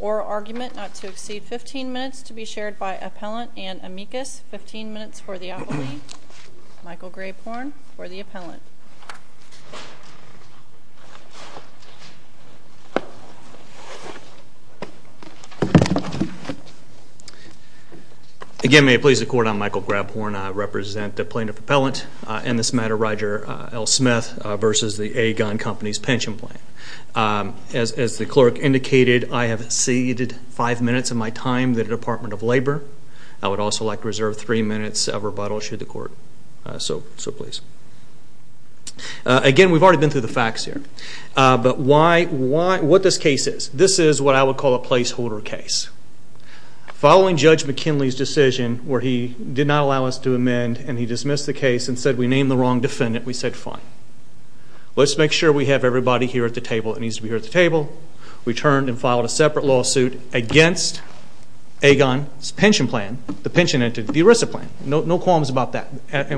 Or argument not to exceed 15 minutes to be shared by appellant and amicus. 15 minutes for the appellant. Michael Grapehorn for the appellant. Again, may it please the court, I'm Michael Grapehorn. I represent the plaintiff appellant, in this matter Roger L Smith v. Aegon Companies Pension Plan. As the clerk indicated, I have exceeded 5 minutes of my time in the Department of Labor. I would also like to reserve 3 minutes of rebuttal should the court so please. Again, we've already been through the facts here. But what this case is, this is what I would call a placeholder case. Following Judge McKinley's decision where he did not allow us to amend and he dismissed the case and said we named the wrong defendant, we said fine. Let's make sure we have everybody here at the table that needs to be here at the table. We turned and filed a separate lawsuit against Aegon's pension plan, the pension entity, the ERISA plan. No qualms about that.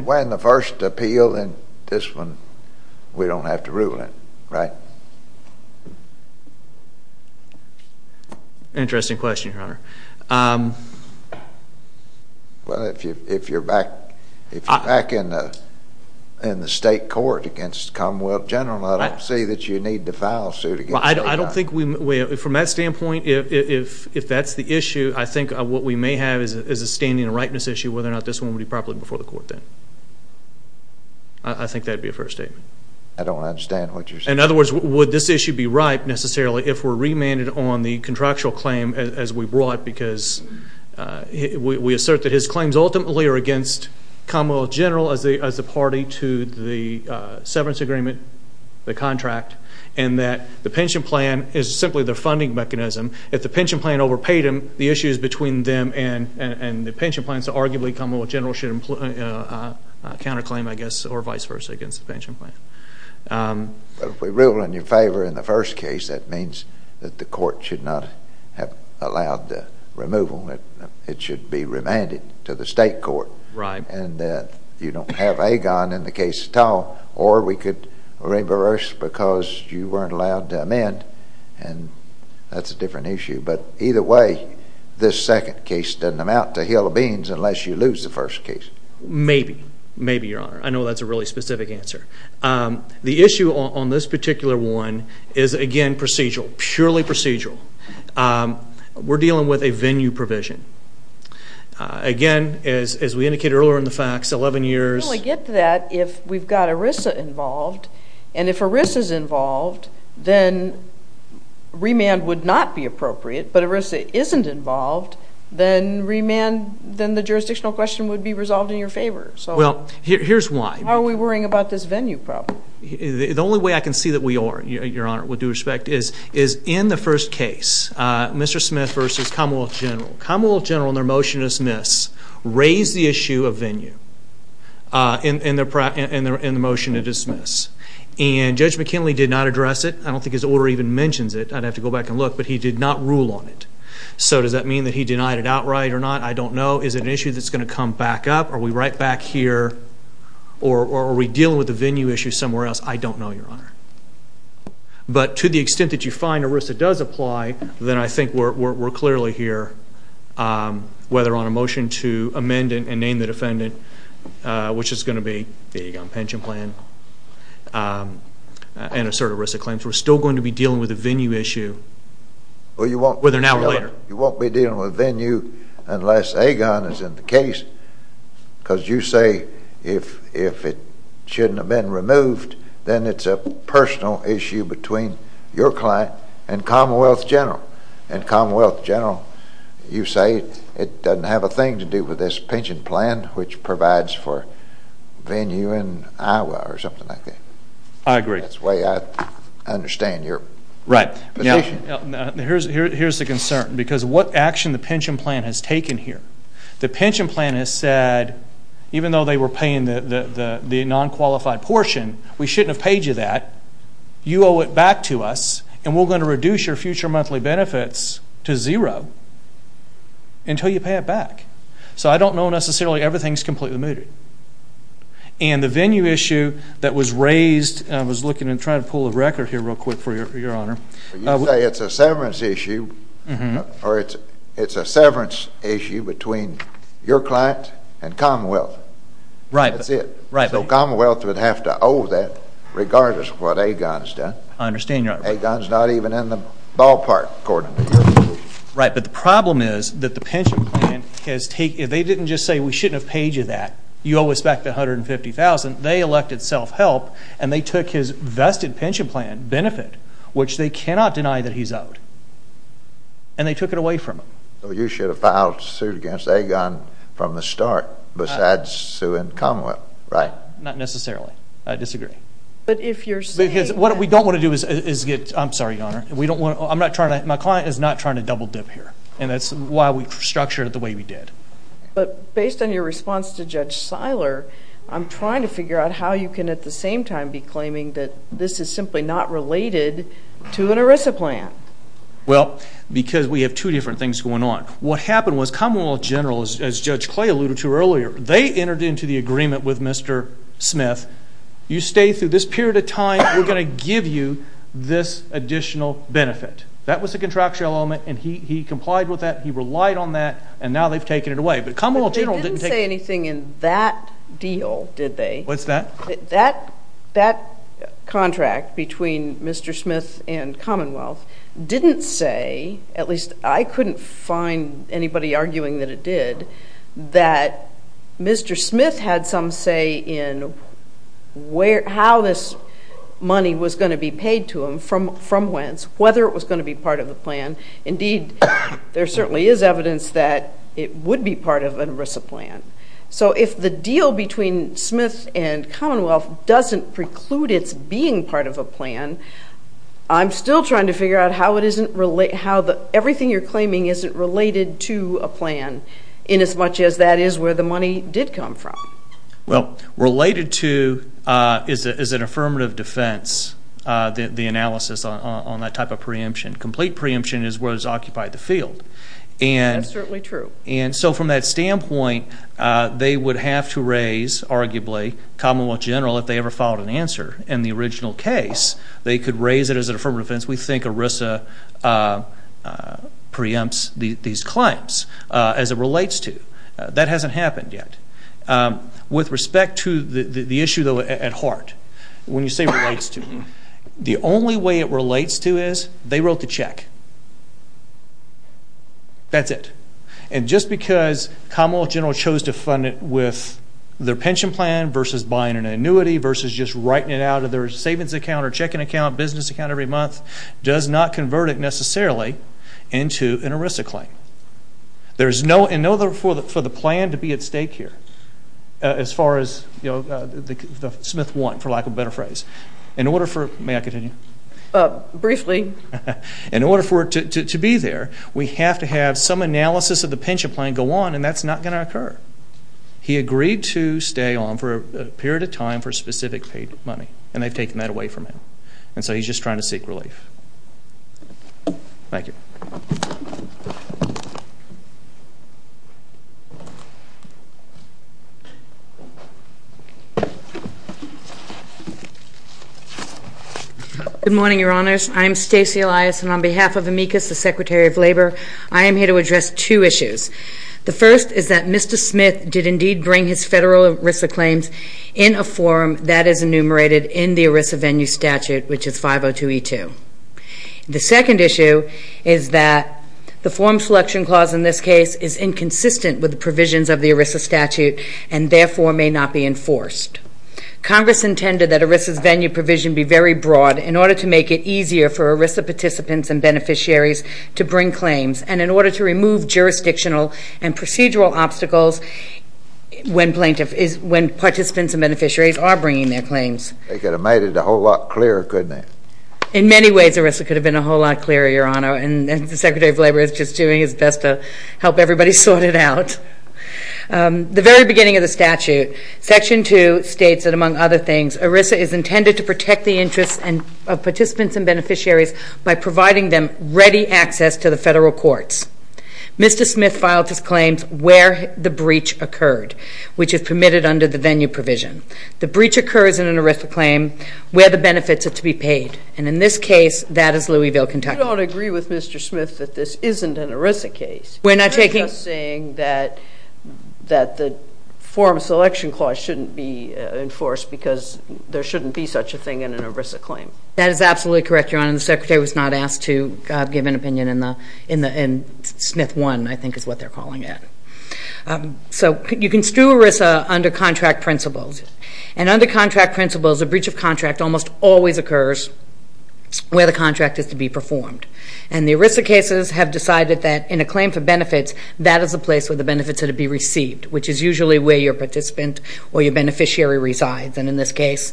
When the first appeal, then this one we don't have to rule it, right? Interesting question, your honor. Well, if you're back in the state court against the Commonwealth General, I don't see that you need to file a suit against Aegon. From that standpoint, if that's the issue, I think what we may have is a standing and ripeness issue whether or not this one would be properly before the court then. I think that would be a fair statement. I don't understand what you're saying. In other words, would this issue be ripe, necessarily, if we're remanded on the contract because we assert that his claims ultimately are against Commonwealth General as a party to the severance agreement, the contract, and that the pension plan is simply the funding mechanism. If the pension plan overpaid him, the issues between them and the pension plan, so arguably Commonwealth General should counterclaim, I guess, or vice versa against the pension plan. If we rule in your favor in the first case, that means that the court should not have allowed the removal. It should be remanded to the state court. And you don't have Aegon in the case at all. Or we could reverse because you weren't allowed to amend. And that's a different issue. But either way, this second case doesn't amount to a hill of beans unless you lose the first case. Maybe. Maybe, Your Honor. I know that's a really specific answer. The issue on this particular one is, again, procedural. Purely procedural. We're dealing with a venue provision. Again, as we indicated earlier in the facts, 11 years... I only get that if we've got ERISA involved and if ERISA's involved, then remand would not be appropriate. But ERISA isn't involved, then remand, then the jurisdictional question would be resolved in your favor. Here's why. Why are we worrying about this venue problem? The only way I can see that we are, Your Honor, with due respect, is in the first case Mr. Smith versus Commonwealth General. Commonwealth General in their motion to dismiss raised the issue of venue in the motion to dismiss. And Judge McKinley did not address it. I don't think his order even mentions it. I'd have to go back and look. But he did not rule on it. So does that mean that he denied it outright or not? I don't know. Is it an issue that's going to come back up? Are we right back here? Or are we dealing with the venue issue somewhere else? I don't know, Your Honor. But to the extent that you find ERISA does apply, then I think we're clearly here whether on a motion to amend and name the defendant which is going to be the Agon pension plan and assert ERISA claims. We're still going to be dealing with the venue issue whether now or later. You won't be dealing with venue unless Agon is in the case because you say if it shouldn't have been removed, then it's a personal issue between your client and Commonwealth General. And Commonwealth General, you say it doesn't have a thing to do with this pension plan which provides for venue in Iowa or something like that. I agree. That's the way I understand your position. Right. Here's the concern because what action the pension plan has taken here. The pension plan has said even though they were paying the non-qualified portion we shouldn't have paid you that. You owe it back to us and we're going to reduce your future monthly benefits to zero until you pay it back. So I don't know necessarily everything's completely mooted. And the venue issue that was raised, I was looking and trying to pull a record here real quick for you, Your Honor. You say it's a severance issue or it's a severance issue between your client and Commonwealth. Right. That's it. So Commonwealth would have to owe that regardless of what Agon's done. I understand Your Honor. Agon's not even in the ballpark according to your position. Right. But the problem is that the pension plan has taken, they didn't just say we shouldn't have paid you that. You owe us back the $150,000. They elected self-help and they took his vested pension plan benefit which they cannot deny that he's owed. And they took it away from them. So you should have filed suit against Agon from the start besides Sue and Commonwealth. Right. Not necessarily. I disagree. But if you're saying... Because what we don't want to do is get, I'm sorry Your Honor, I'm not trying to, my client is not trying to double dip here. And that's why we structured it the way we did. But based on your response to Judge Seiler, I'm trying to figure out how you can at the same time be claiming that this is simply not related to an ERISA plan. Well, because we have two different things going on. What happened was Commonwealth General, as Judge Clay alluded to earlier, they entered into the agreement with Mr. Smith, you stay through this period of time, we're going to give you this additional benefit. That was the contractual element and he complied with that, he relied on that, and now they've taken it away. But Commonwealth General didn't take... But they didn't say anything in that deal, did they? What's that? That contract between Mr. Smith and Commonwealth didn't say, at least I couldn't find anybody arguing that it did, that Mr. Smith had some say in how this money was going to be paid to him from whence, whether it was going to be part of the plan. Indeed, there certainly is evidence that it would be part of an ERISA plan. So if the deal between Smith and Commonwealth doesn't preclude its being part of a plan, I'm still trying to figure out how everything you're claiming isn't related to a plan in as much as that is where the money did come from. Well, related to is an affirmative defense, the analysis on that type of preemption. Complete preemption is where it was occupied the field. That's certainly true. And so from that standpoint, they would have to raise, arguably, Commonwealth General, if they ever filed an answer in the original case, they could raise it as an affirmative defense. We think ERISA preempts these claims as it relates to. That hasn't happened yet. With respect to the issue, though, at heart, when you say relates to, the only way it relates to is they wrote the check. That's it. And just because Commonwealth General chose to fund it with their pension plan versus buying an annuity versus just writing it out of their savings account or checking account, business account every month, does not convert it necessarily into an ERISA claim. There's no, in order for the plan to be at stake here, as far as, you know, the Smith want, for lack of a better phrase. In order for, may I continue? Briefly. In order for it to be there, we have to have some analysis of the pension plan go on, and that's not going to occur. He agreed to stay on for a period of time for specific paid money, and they've taken that away from him. And so he's just trying to seek relief. Thank you. Good morning, Your Honors. I'm Stacy Elias, and on behalf of AMICUS, the Secretary of Labor, I am here to address two issues. The first is that Mr. Smith did indeed bring his federal ERISA claims in a form that is enumerated in the ERISA venue statute, which is 502E2. The second issue is that the form selection clause in this case is inconsistent with the provisions of the ERISA statute, and therefore may not be enforced. Congress intended that ERISA's venue provision be very broad in order to make it easier for ERISA participants and beneficiaries to bring claims, and in order to remove jurisdictional and procedural obstacles when participants and beneficiaries are bringing their claims. They could have made it a whole lot clearer, couldn't they? In many ways, ERISA could have been a whole lot clearer, Your Honor, and the Secretary of Labor is just doing his best to help everybody sort it out. The very beginning of the statute, Section 2, states that, among other things, ERISA is intended to protect the interests of participants and beneficiaries by providing them ready access to the federal courts. Mr. Smith filed his claims where the breach occurred, which is permitted under the venue provision. The breach occurs in an ERISA claim where the benefits are to be paid, and in this case, that is Louisville, Kentucky. You don't agree with Mr. Smith that this isn't an ERISA case. You're just saying that the form selection clause shouldn't be enforced because there shouldn't be such a thing in an ERISA claim. That is absolutely correct, Your Honor. The Secretary was not asked to give an opinion in Smith 1, I think is what they're calling it. So you can stew ERISA under contract principles, and under contract principles, a breach of contract almost always occurs where the contract is to be performed, and the ERISA cases have decided that in a claim for benefits, that is the place where the benefits are to be received, which is usually where your participant or your beneficiary resides, and in this case,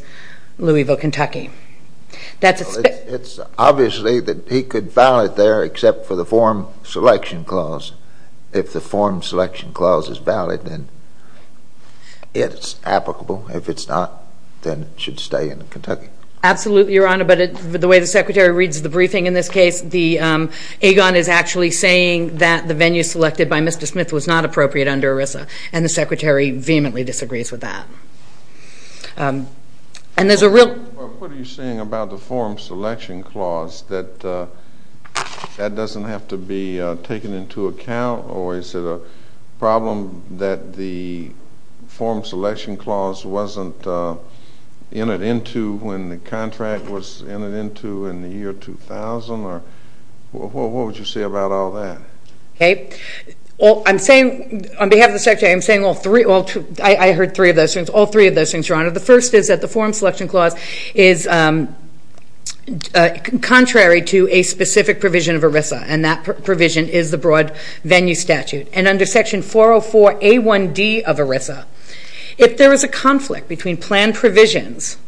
Louisville, Kentucky. It's obviously that he could file it there except for the form selection clause. If the form selection clause is valid, then it's applicable. If it's not, then it should stay in Kentucky. Absolutely, Your Honor, but the way the Secretary reads the briefing in this case, the AGON is actually saying that the venue selected by Mr. Smith was not appropriate under ERISA, and the Secretary vehemently disagrees with that. What are you saying about the form selection clause, that that doesn't have to be taken into account, or is it a problem that the form selection clause wasn't entered into when the contract was entered into in the year 2000, or what would you say about all that? Well, I'm saying, on behalf of the Secretary, I'm saying all three, I heard three of those things, all three of those things, Your Honor. The first is that the form selection clause is contrary to a specific provision of ERISA, and that provision is the broad venue statute, and under Section 404A1D of ERISA, if there is a conflict between plan provisions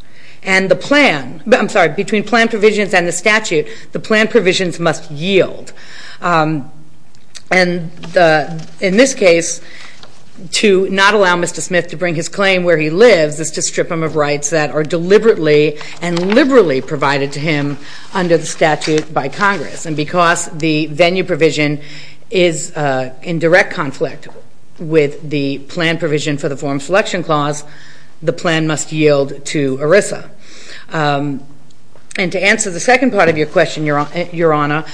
and the plan, I'm sorry, between plan provisions and the statute, the plan provisions must yield, and in this case, to not allow Mr. Smith to bring his claim where he lives is to strip him of rights that are deliberately and liberally provided to him under the statute by Congress, and because the venue provision is in direct conflict with the plan provision for the form selection clause, the plan must yield to ERISA. And to answer the second part of your question, Your Honor,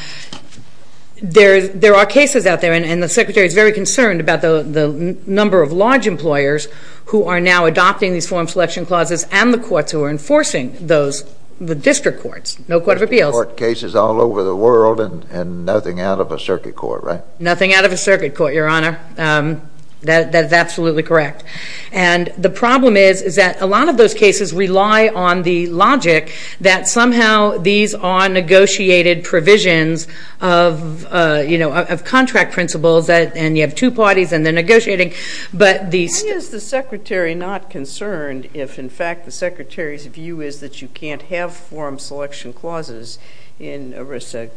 there are cases out there, and the Secretary is very concerned about the number of large employers who are now adopting these form selection clauses and the courts who are enforcing those, the district courts, no court of appeals. District court cases all over the world and nothing out of a circuit court, right? Nothing out of a circuit court, Your Honor. That is absolutely correct. And the problem is that a lot of those cases rely on the logic that somehow these are negotiated provisions of contract principles and you have two parties and they're negotiating, but these... Why is the Secretary not concerned if, in fact, the Secretary's view is that you can't have form selection clauses in ERISA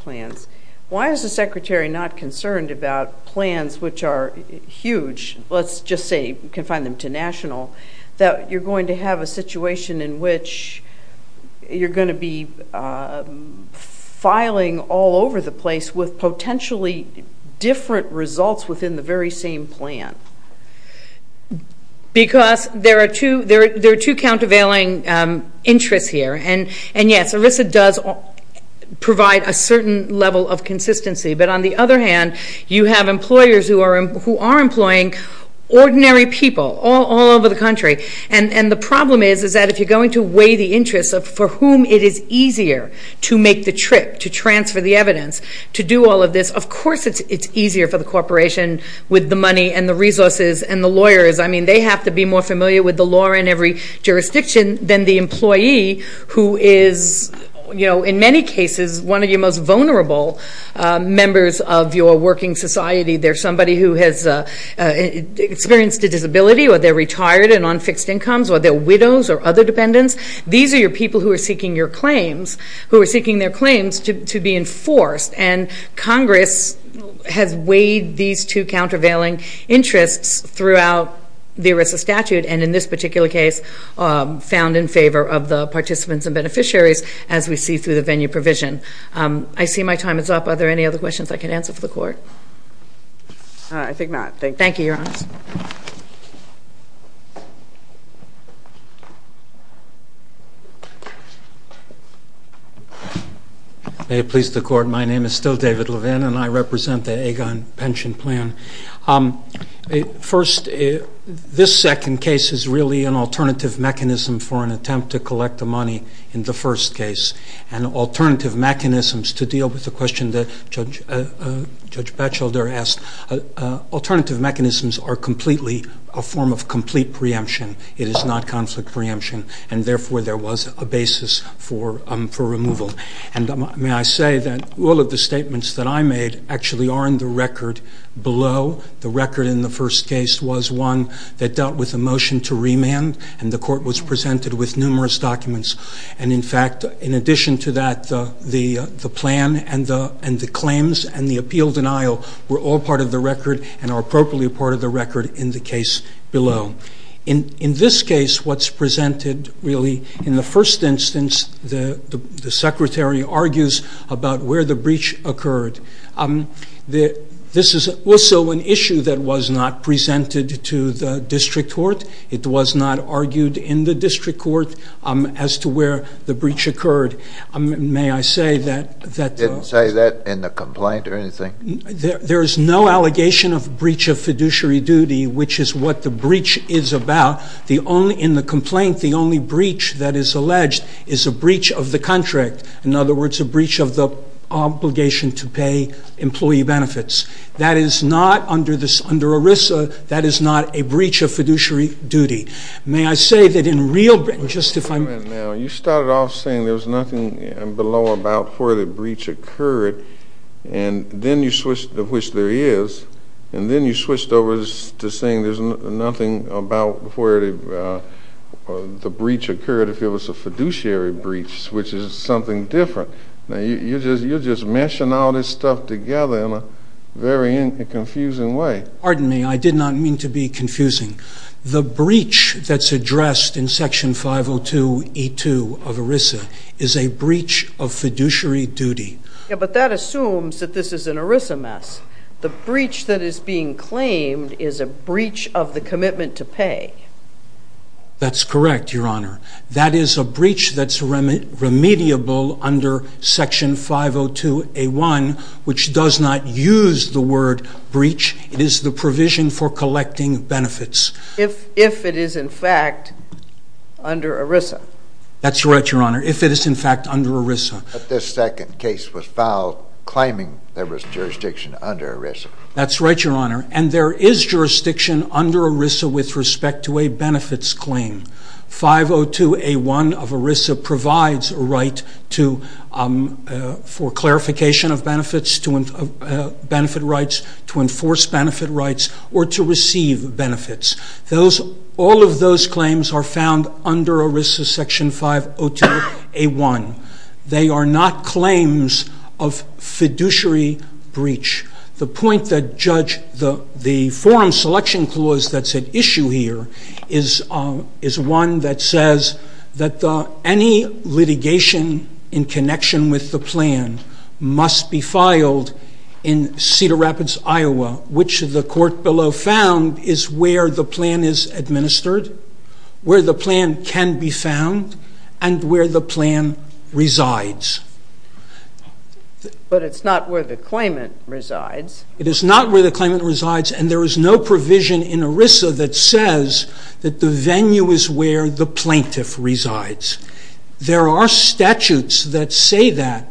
plans? Why is the Secretary not concerned about plans which are huge, let's just say you can find them to national, that you're going to have a situation in which you're going to be negotiating all over the place with potentially different results within the very same plan? Because there are two countervailing interests here, and yes, ERISA does provide a certain level of consistency, but on the other hand, you have employers who are employing ordinary people all over the country, and the problem is that if you're going to weigh the interests for whom it is easier to make the trip, to transfer the evidence, to do all of this, of course it's easier for the corporation with the money and the resources and the lawyers. I mean, they have to be more familiar with the law in every jurisdiction than the employee who is, in many cases, one of your most vulnerable members of your working society. They're somebody who has experienced a disability or they're retired and on fixed incomes or they're widows or other dependents. These are your claims, who are seeking their claims to be enforced, and Congress has weighed these two countervailing interests throughout the ERISA statute, and in this particular case found in favor of the participants and beneficiaries, as we see through the venue provision. I see my time is up. Are there any other questions I can answer for the May it please the Court. My name is still David Levin, and I represent the Aegon Pension Plan. First, this second case is really an alternative mechanism for an attempt to collect the money in the first case, and alternative mechanisms to deal with the question that Judge Batchelder asked. Alternative mechanisms are completely a form of complete preemption. It is not conflict preemption, and therefore there was a basis for removal. And may I say that all of the statements that I made actually are in the record below. The record in the first case was one that dealt with a motion to remand, and the Court was presented with numerous documents. And in fact, in addition to that, the plan and the claims and the appeal denial were all part of the record and are appropriately part of the record in the case below. In this case, what's presented really, in the first instance, the Secretary argues about where the breach occurred. This is also an issue that was not presented to the District Court. It was not argued in the District Court as to where the breach occurred. May I say that Didn't say that in the complaint or anything? There is no allegation of breach of fiduciary duty, which is what the breach is about. In the complaint, the only breach that is alleged is a breach of the contract. In other words, a breach of the obligation to pay employee benefits. That is not, under ERISA, that is not a breach of fiduciary duty. May I say that in real... Just a minute now. You started off saying there was nothing below about where the breach occurred, and then you switched to which there is, and then you switched over to saying there's nothing about where the breach occurred if it was a fiduciary breach, which is something different. You're just meshing all this stuff together in a very confusing way. Pardon me, I did not mean to be confusing. The breach that's addressed in Section 502E2 of ERISA is a breach of fiduciary duty. Yeah, but that assumes that this is an ERISA mess. The breach that is being claimed is a breach of the commitment to pay. That's correct, Your Honor. That is a breach that's remediable under Section 502A1, which does not use the word breach. It is the provision for collecting benefits. If it is, in fact, under ERISA. That's right, Your Honor. If it is, in fact, under ERISA. But this second case was filed claiming there was jurisdiction under ERISA. That's right, Your Honor. And there is jurisdiction under ERISA with respect to a benefits claim. 502A1 of ERISA provides a right for clarification of benefits, benefit rights, to enforce benefit rights, or to receive benefits. All of those claims are found under ERISA Section 502A1. They are not claims of jurisdiction. The forum selection clause that's at issue here is one that says that any litigation in connection with the plan must be filed in Cedar Rapids, Iowa, which the court below found is where the plan is administered, where the plan can be found, and where the plan resides. But it's not where the claimant resides. It is not where the claimant resides, and there is no provision in ERISA that says that the venue is where the plaintiff resides. There are statutes that say that,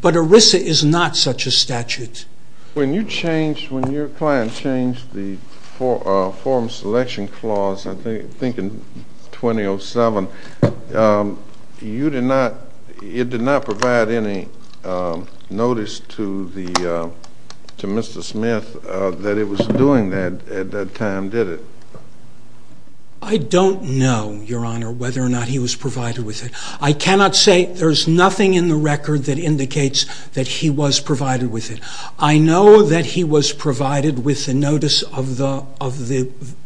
but ERISA is not such a statute. When you changed, when your client changed the forum selection clause, I think in 2007, it did not provide any notice to Mr. Smith that it was doing that at that time, did it? I don't know, Your Honor, whether or not he was provided with it. I cannot say. There's nothing in the record that indicates that he was provided with it. I know that he was provided with the notice of the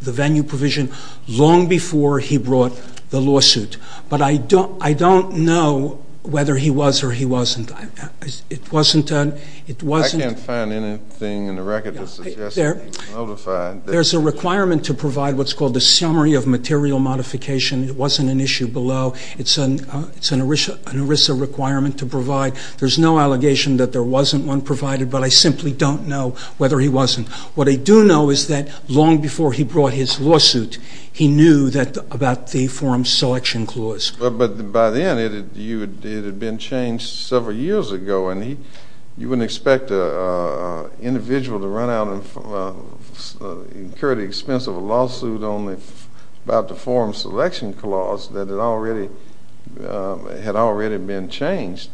venue provision long before he brought the lawsuit, but I don't know whether he was or he wasn't. I can't find anything in the record that suggests he was notified. There's a requirement to provide what's called the summary of material modification. It wasn't an issue below. It's an ERISA requirement to provide. There's no allegation that there wasn't one provided, but I simply don't know whether he wasn't. What I do know is that long before he brought his lawsuit, he knew about the forum selection clause. But by then, it had been changed several years ago and you wouldn't expect an individual to run out and incur the expense of a lawsuit only about the forum selection clause that had already been changed.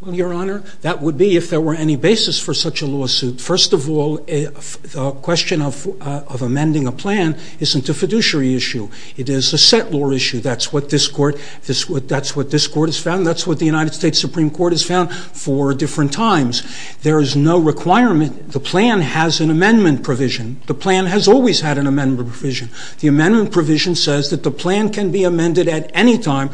Well, Your Honor, that would be if there were any basis for such a lawsuit. First of all, the question of amending a plan isn't a fiduciary issue. It is a set law issue. That's what this Court has found. That's what the United States Supreme Court has found for different times. There is no requirement. The plan has an amendment provision. The plan has always had an amendment provision. The amendment provision says that the plan can be amended at any time,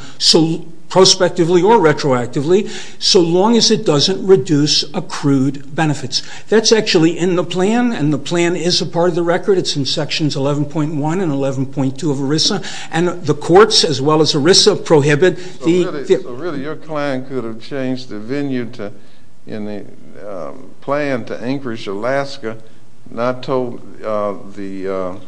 prospectively or retroactively, so long as it doesn't reduce accrued benefits. That's actually in the plan, and the plan is a part of the record. It's in Sections 11.1 and 11.2 of ERISA, and the courts, as well as ERISA, prohibit the... So really, your client could have changed the venue in the plan to Anchorage, Alaska, not told Mr.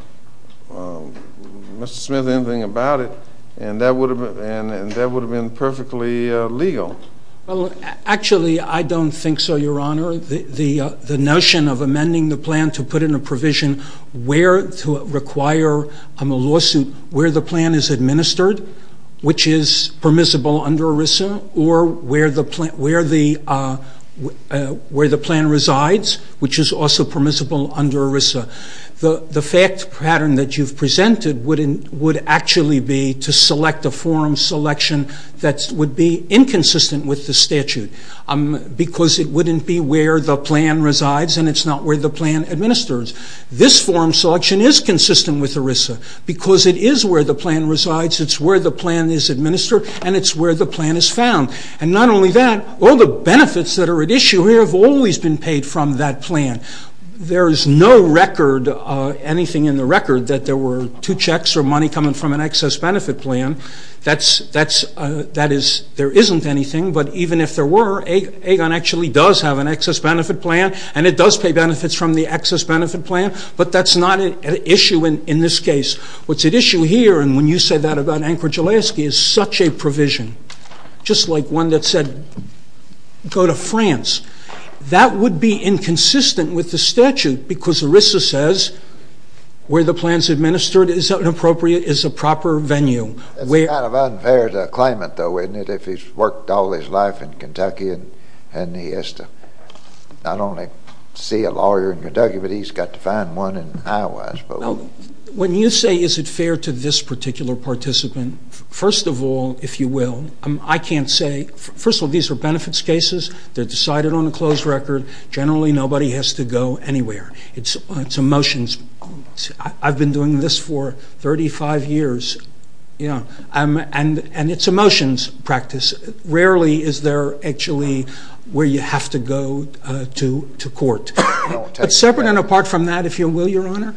Smith anything about it, and that would have been perfectly legal. Well, actually, I don't think so, Your Honor. The notion of amending the plan to put in a provision where to require a lawsuit, where the plan is administered, which is permissible under ERISA, or where the plan resides, which is also permissible under ERISA. The fact pattern that you've presented would actually be to select a forum selection that would be inconsistent with the statute, because it wouldn't be where the plan resides and it's not where the plan administers. This forum selection is consistent with ERISA, because it is where the plan resides, it's where the plan is administered, and it's where the plan is found. And not only that, all the benefits that are at issue here have always been paid from that plan. There is no record, anything in the record, that there were two checks or money coming from an excess benefit plan. There isn't anything, but even if there were, Agon actually does have an excess benefit plan, and it does pay benefits from the excess benefit plan, but that's not an issue in this case. What's at issue here, and when you said that about Anchorage-Alaska, is such a provision, just like one that said, go to France. That would be inconsistent with the statute, because ERISA says where the plan is administered is appropriate, is a proper venue. It's kind of unfair to claim it, though, isn't it? If he's worked all his life in Kentucky and he has to not only see a lawyer in Kentucky, but he's got to find one in Iowa, I suppose. When you say, is it fair to this particular participant, first of all, if you will, I can't say, first of all, these are benefits cases, they're decided on a closed record, generally nobody has to go anywhere. It's a motion, I've been doing this for 35 years, and it's a motions practice. Rarely is there actually where you have to go to court. But separate and apart from that, if you will, Your Honor,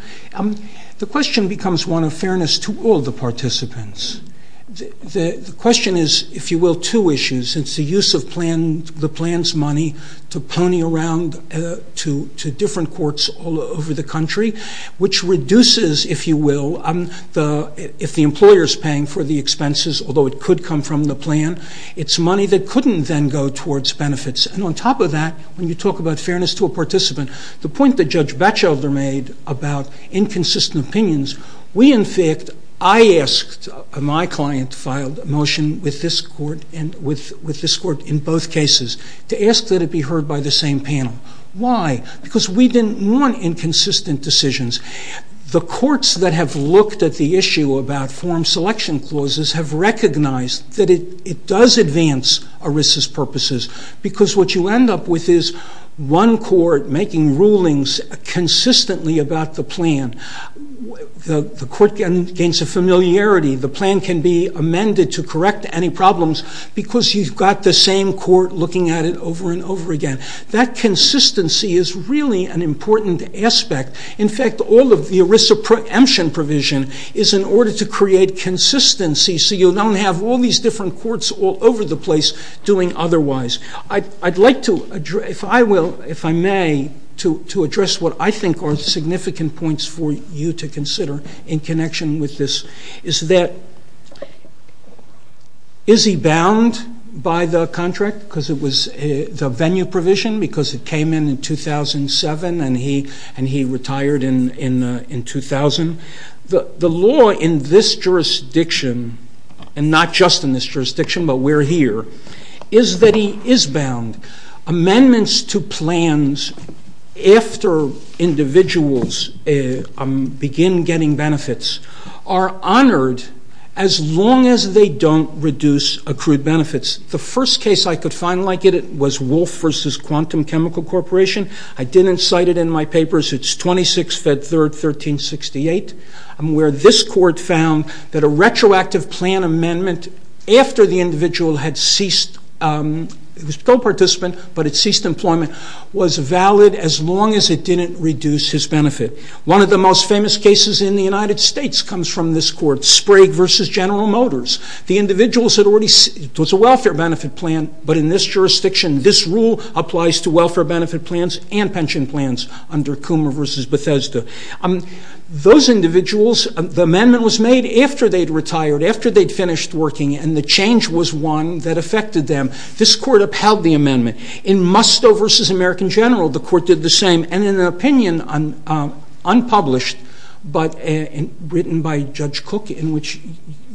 the question becomes one of fairness to all the participants. The question is, if you will, two issues. It's the use of the plan's money to pony around to different courts all over the country, which reduces, if you will, if the employer's paying for the expenses, although it could come from the plan, it's money that couldn't then go towards benefits. And on top of that, when you talk about fairness to a participant, the point that Judge Batchelder made about inconsistent opinions, we in fact, I asked, my client filed a motion with this court and with this court in both cases, to ask that it be heard by the same panel. Why? Because we didn't want inconsistent decisions. The courts that have looked at the issue about forum selection clauses have recognized that it does advance ERISA's purposes, because what you end up with is one court making rulings consistently about the plan. The court gains a familiarity, the plan can be amended to correct any problems, because you've got the same court looking at it over and over again. That consistency is really an important aspect. In fact, all of the ERISA preemption provision is in order to create consistency, so you don't have all these different courts all over the place doing otherwise. I'd like to address, if I may, to address what I think are significant points for you to consider in connection with this. Is that, is he bound by the contract, because it was the venue provision, because it came in 2007 and he retired in 2000? The law in this jurisdiction and not just in this jurisdiction, but we're here, is that he is bound. Amendments to plans after individuals begin getting benefits are honored as long as they don't reduce accrued benefits. The first case I could find like it was Wolf v. Quantum Chemical Corporation. I didn't cite it in my papers. It's 26, Fed 3rd, 1368, where this court found that a retroactive plan amendment after the individual had ceased, it was co-participant, but it ceased employment, was valid as long as it didn't reduce his benefit. One of the most famous cases in the United States comes from this court, Sprague v. General Motors. The individuals had already, it was a welfare benefit plan, but in this jurisdiction, this rule applies to welfare benefit plans and pension plans under Coomer v. Bethesda. Those individuals, the amendment was made after they'd retired, after they'd finished working, and the change was one that affected them. This court upheld the amendment. In Musto v. American General, the court did the same, and in an opinion unpublished, but written by Judge Cook, in which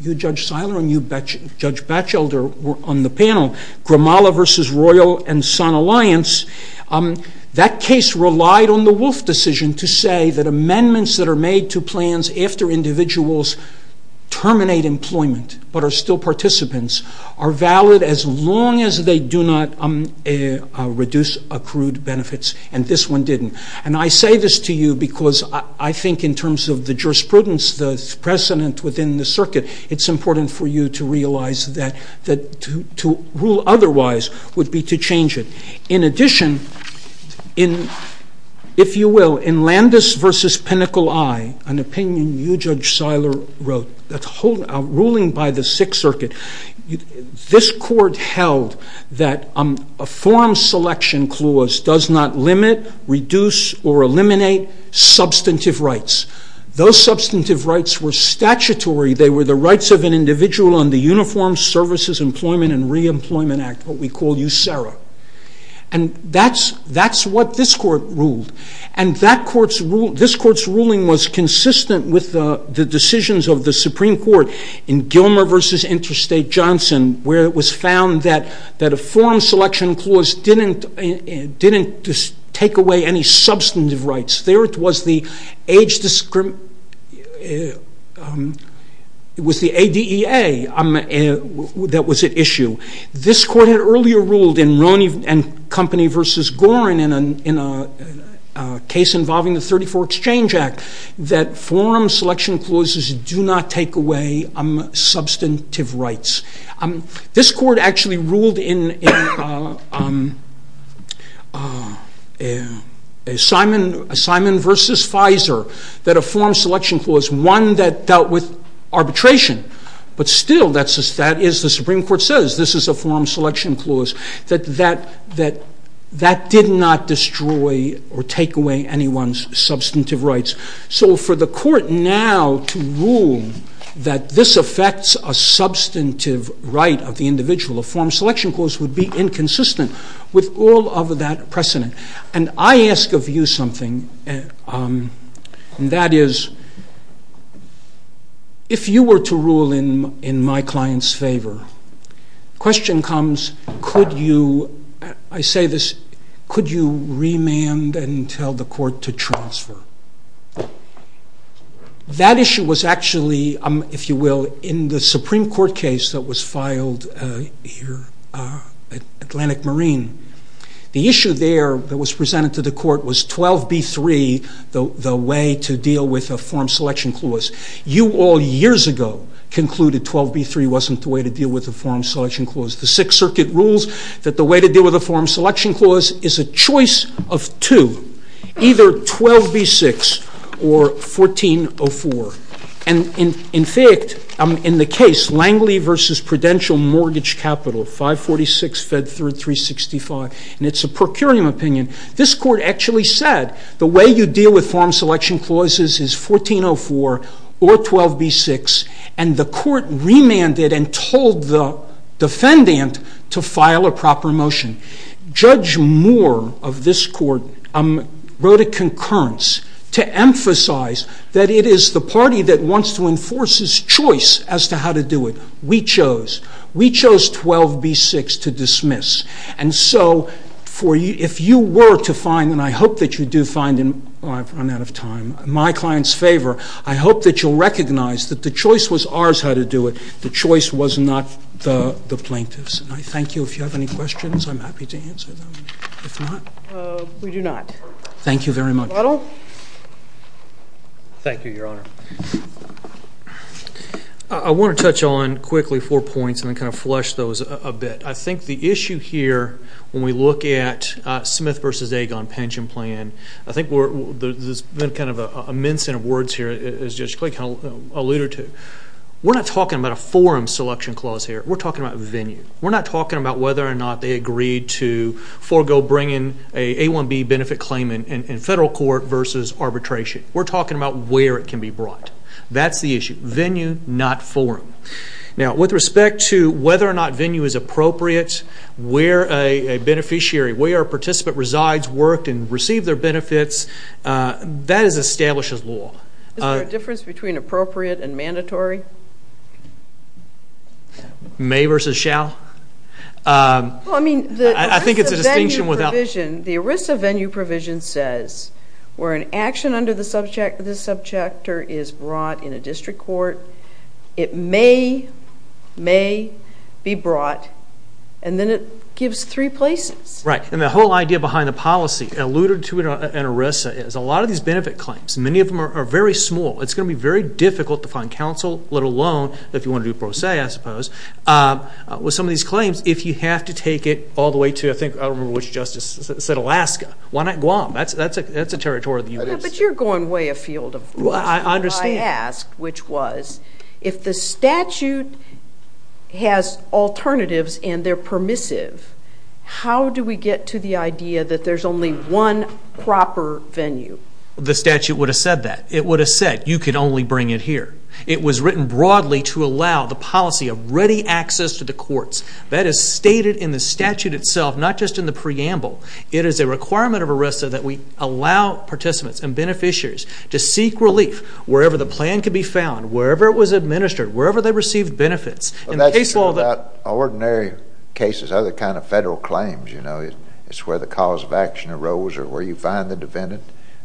you, Judge Seiler, and you, Judge Batchelder, were on the panel, Grimala v. Royal and Sun Alliance, that case relied on the Wolf decision to say that amendments that are made to plans after individuals terminate employment, but are still participants, are valid as long as they do not reduce accrued benefits, and this one didn't. And I say this to you because I think in terms of the jurisprudence, the precedent within the circuit, it's important for you to realize that to rule otherwise would be to change it. In addition, if you will, in Landis v. Pinnacle I, an opinion you, Judge Seiler, wrote, ruling by the Sixth Circuit, this court held that a form selection clause does not limit, reduce, or eliminate substantive rights. Those substantive rights were statutory, they were the rights of an individual on the Uniform Services, Employment, and Reemployment Act, what we call USERRA. And that's what this court ruled, and that court's ruling was consistent with the decisions of the Supreme Court in Gilmer v. Interstate Johnson, where it was found that a form selection clause didn't take away any substantive rights. There it was the age discrimination, it was the ADEA that was at issue. This court had earlier ruled in Roney v. Goren, in a case involving the 34 Exchange Act, that form selection clauses do not take away substantive rights. This court actually ruled in Simon v. Pfizer, that a form selection clause, one that dealt with arbitration, but still, that is the Supreme Court says, this is a form selection clause, that did not destroy or take away anyone's substantive rights. So for the court now to rule that this affects a substantive right of the Supreme Court, it's very consistent with all of that precedent. And I ask of you something, and that is, if you were to rule in my client's favor, question comes, could you, I say this, could you remand and tell the court to transfer? That issue was actually, if you will, in the Supreme Court case that was filed here, Atlantic Marine, the issue there that was presented to the court was 12b-3, the way to deal with a form selection clause. You all years ago concluded 12b-3 wasn't the way to deal with a form selection clause. The Sixth Circuit rules that the way to deal with a form selection clause is a choice of two, either 12b-6 or 14-04. And in fact, in the case Langley v. Prudential Mortgage Capital, 546 Fed Third 365, and it's a procurium opinion, this court actually said the way you deal with form selection clauses is 14-04 or 12b-6, and the court remanded and told the defendant to file a proper motion. Judge Moore of this court wrote a concurrence to emphasize that it is the party that wants to enforce the plaintiff's choice as to how to do it. We chose. We chose 12b-6 to dismiss. And so, if you were to find, and I hope that you do find, and I've run out of time, in my client's favor, I hope that you'll recognize that the choice was ours how to do it. The choice was not the plaintiff's. And I thank you. If you have any questions, I'm happy to answer them. If not... We do not. Thank you very much. Thank you, Your Honor. I want to touch on, quickly, four points and then kind of flush those a bit. I think the issue here, when we look at Smith v. Agon pension plan, I think there's been a mincing of words here, as Judge Clay alluded to. We're not talking about a forum selection clause here. We're talking about venue. We're not talking about whether or not they agreed to forego bringing an in federal court versus arbitration. We're talking about where it can be brought. That's the issue. Venue, not forum. Now, with respect to whether or not venue is appropriate, where a beneficiary, where a participant resides, worked, and received their benefits, that establishes law. Is there a difference between appropriate and mandatory? May versus shall? I think it's a distinction without... The ERISA venue provision says where an action under the subjector is brought in a district court, it may be brought and then it gives three places. Right. And the whole idea behind the policy alluded to in ERISA is a lot of these benefit claims, many of them are very small. It's going to be very difficult to find counsel, let alone if you want to do pro se, I suppose, with some of these claims if you have to take it all the way to, I think, I don't remember which Justice said, Alaska. Why not Guam? That's a territory of the U.S. But you're going way afield. I understand. I asked, which was, if the statute has alternatives and they're permissive, how do we get to the idea that there's only one proper venue? The statute would have said that. It would have said, you can only bring it here. It was written broadly to allow the policy of ready access to the courts. That is stated in the statute itself, not just in the preamble. It is a requirement of ERISA that we allow participants and beneficiaries to seek relief wherever the plan can be found, wherever it was administered, wherever they received benefits. That's true about ordinary cases, other kind of federal claims, you know. It's where the cause of action arose or where you find the defendant.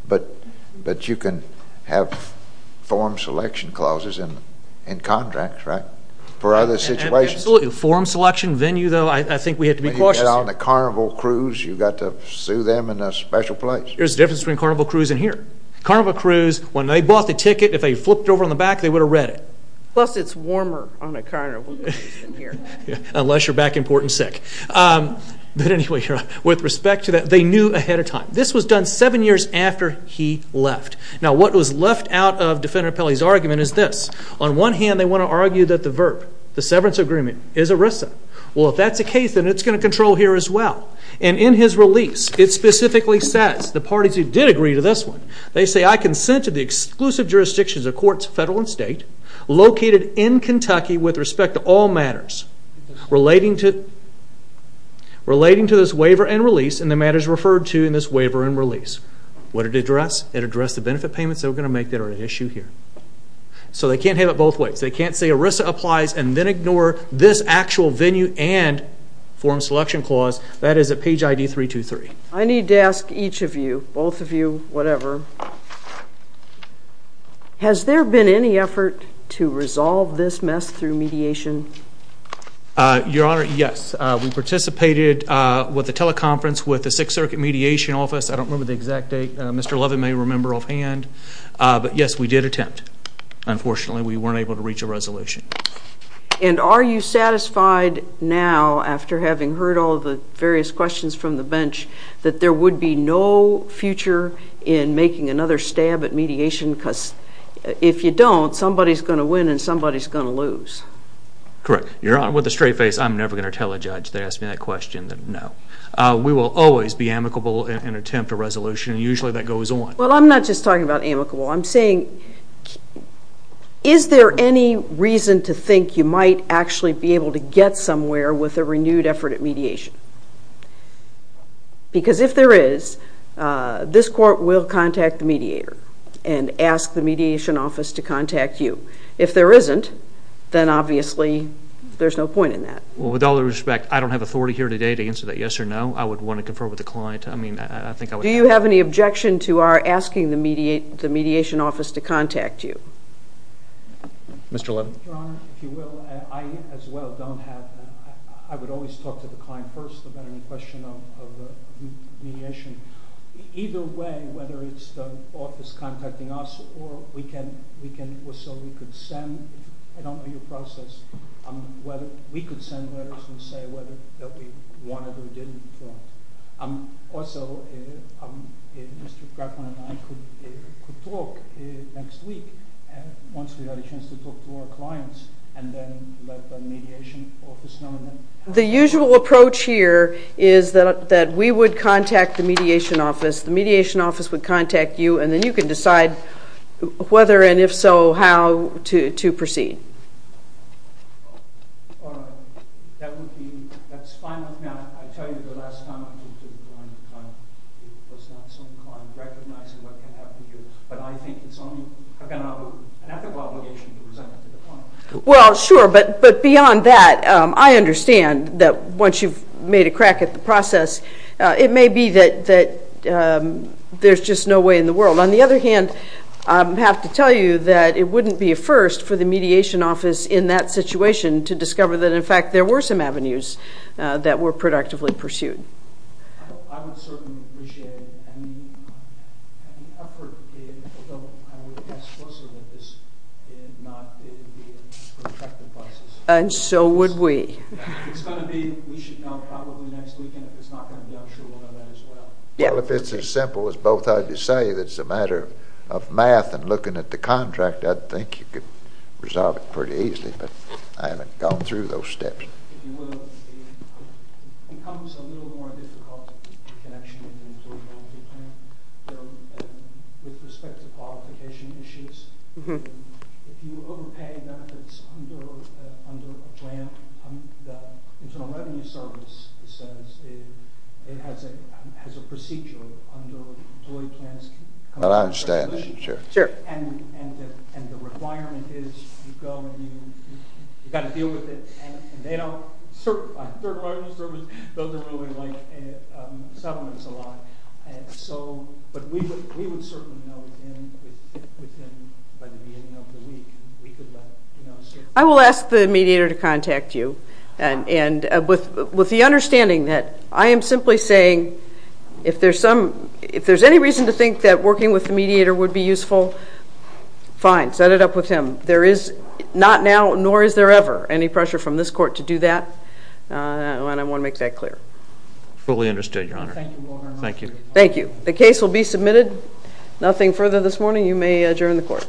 But you can have form selection clauses in contracts, right, for other situations. Absolutely. Form selection, venue, though, I think we have to be cautious here. When you get on a Carnival Cruise, you've got to sue them in a special place. There's a difference between Carnival Cruise and here. Carnival Cruise, when they bought the ticket, if they flipped it over on the back, they would have read it. Plus, it's warmer on a Carnival Cruise than here. Unless you're back in Portland sick. But anyway, with respect to that, they knew ahead of time. This was done seven years after he left. Now, what was left out of Defendant Pelley's argument is this. On one hand, they want to argue that the VERP, the severance agreement, is ERISA. Well, if that's the case, then it's going to control here as well. And in his release, it specifically says, the parties who did agree to this one, they say, I consent to the exclusive jurisdictions of courts, federal and state, located in Kentucky with respect to all matters relating to this waiver and release and the matters referred to in this waiver and release. What did it address? It addressed the benefit payments they were going to make that are at issue here. So they can't have it both ways. They can't say ERISA applies and then ignore this actual venue and forum selection clause. That is at page ID 323. I need to ask each of you, both of you, whatever, has there been any effort to resolve this mess through mediation? Your Honor, yes. We participated with the teleconference with the Sixth Circuit Mediation Office. I don't remember the exact date. Mr. Levin may remember offhand. But yes, we did attempt. Unfortunately, we weren't able to reach a resolution. And are you satisfied now, after having heard all the various questions from the bench, that there would be no future in making another stab at mediation? Because if you don't, somebody's going to win and somebody's going to lose. Correct. Your Honor, with a straight face, I'm never going to tell a judge that asked me that question that no. We will always be amicable and attempt a resolution. And usually that goes on. Well, I'm not just talking about amicable. I'm saying is there any reason to think you might actually be able to get somewhere with a renewed effort at mediation? Because if there is, this court will contact the mediator and ask the Mediation Office to contact you. If there isn't, then obviously there's no point in that. Well, with all due respect, I don't have authority here today to answer that yes or no. I would want to confer with the client. Do you have any objection to our asking the Mediation Office to contact you? Mr. Levin. Your Honor, if you will, I as well don't have I would always talk to the client first about any question of mediation. Either way, whether it's the office contacting us or so we could send I don't know your process, whether we could send letters and say whether that we wanted or didn't want. Also, Mr. Grafman and I could talk next week once we had a chance to talk to our clients. And then let the Mediation Office know. The usual approach here is that we would contact the Mediation Office. The Mediation Office would contact you and then you could decide whether and if so how to proceed. Your Honor, that would be that's fine with me. I tell you the last time I talked to the client it was not some kind of recognizing what can happen here. But I think it's only an ethical obligation to present it to the client. Well, sure. But beyond that, I understand that once you've made a crack at the process, it may be that there's just no way in the world. On the other hand, I have to tell you that it wouldn't be a first for the Mediation Office in that situation to discover that, in fact, there were some avenues that were productively pursued. I would certainly appreciate it. And the effort, I would ask also that this not be a protracted process. And so would we. It's going to be, we should know probably next weekend. If it's not going to be, I'm sure we'll know that as well. Well, if it's as simple as both of you say that it's a matter of math and looking at the contract, I'd think you could resolve it pretty easily. But I haven't gone through those steps. If you will, it becomes a little more difficult in connection with the employability plan with respect to qualification issues. If you overpay benefits under a plan, the Internal Revenue Service says it has a procedure under employee plans. But I understand that, sure. And the requirement is you go and you've got to deal with it and they don't certify. Third Party Service doesn't really like settlements a lot. But we would certainly know within by the beginning of the week. I will ask the mediator to contact you. And with the understanding that I am simply saying if there's any reason to think that working with the mediator would be useful, fine. Set it up with him. Not now, nor is there ever any pressure from this Court to do that. And I want to make that clear. Fully understood, Your Honor. Thank you. The case will be submitted. Nothing further this morning. You may adjourn the Court.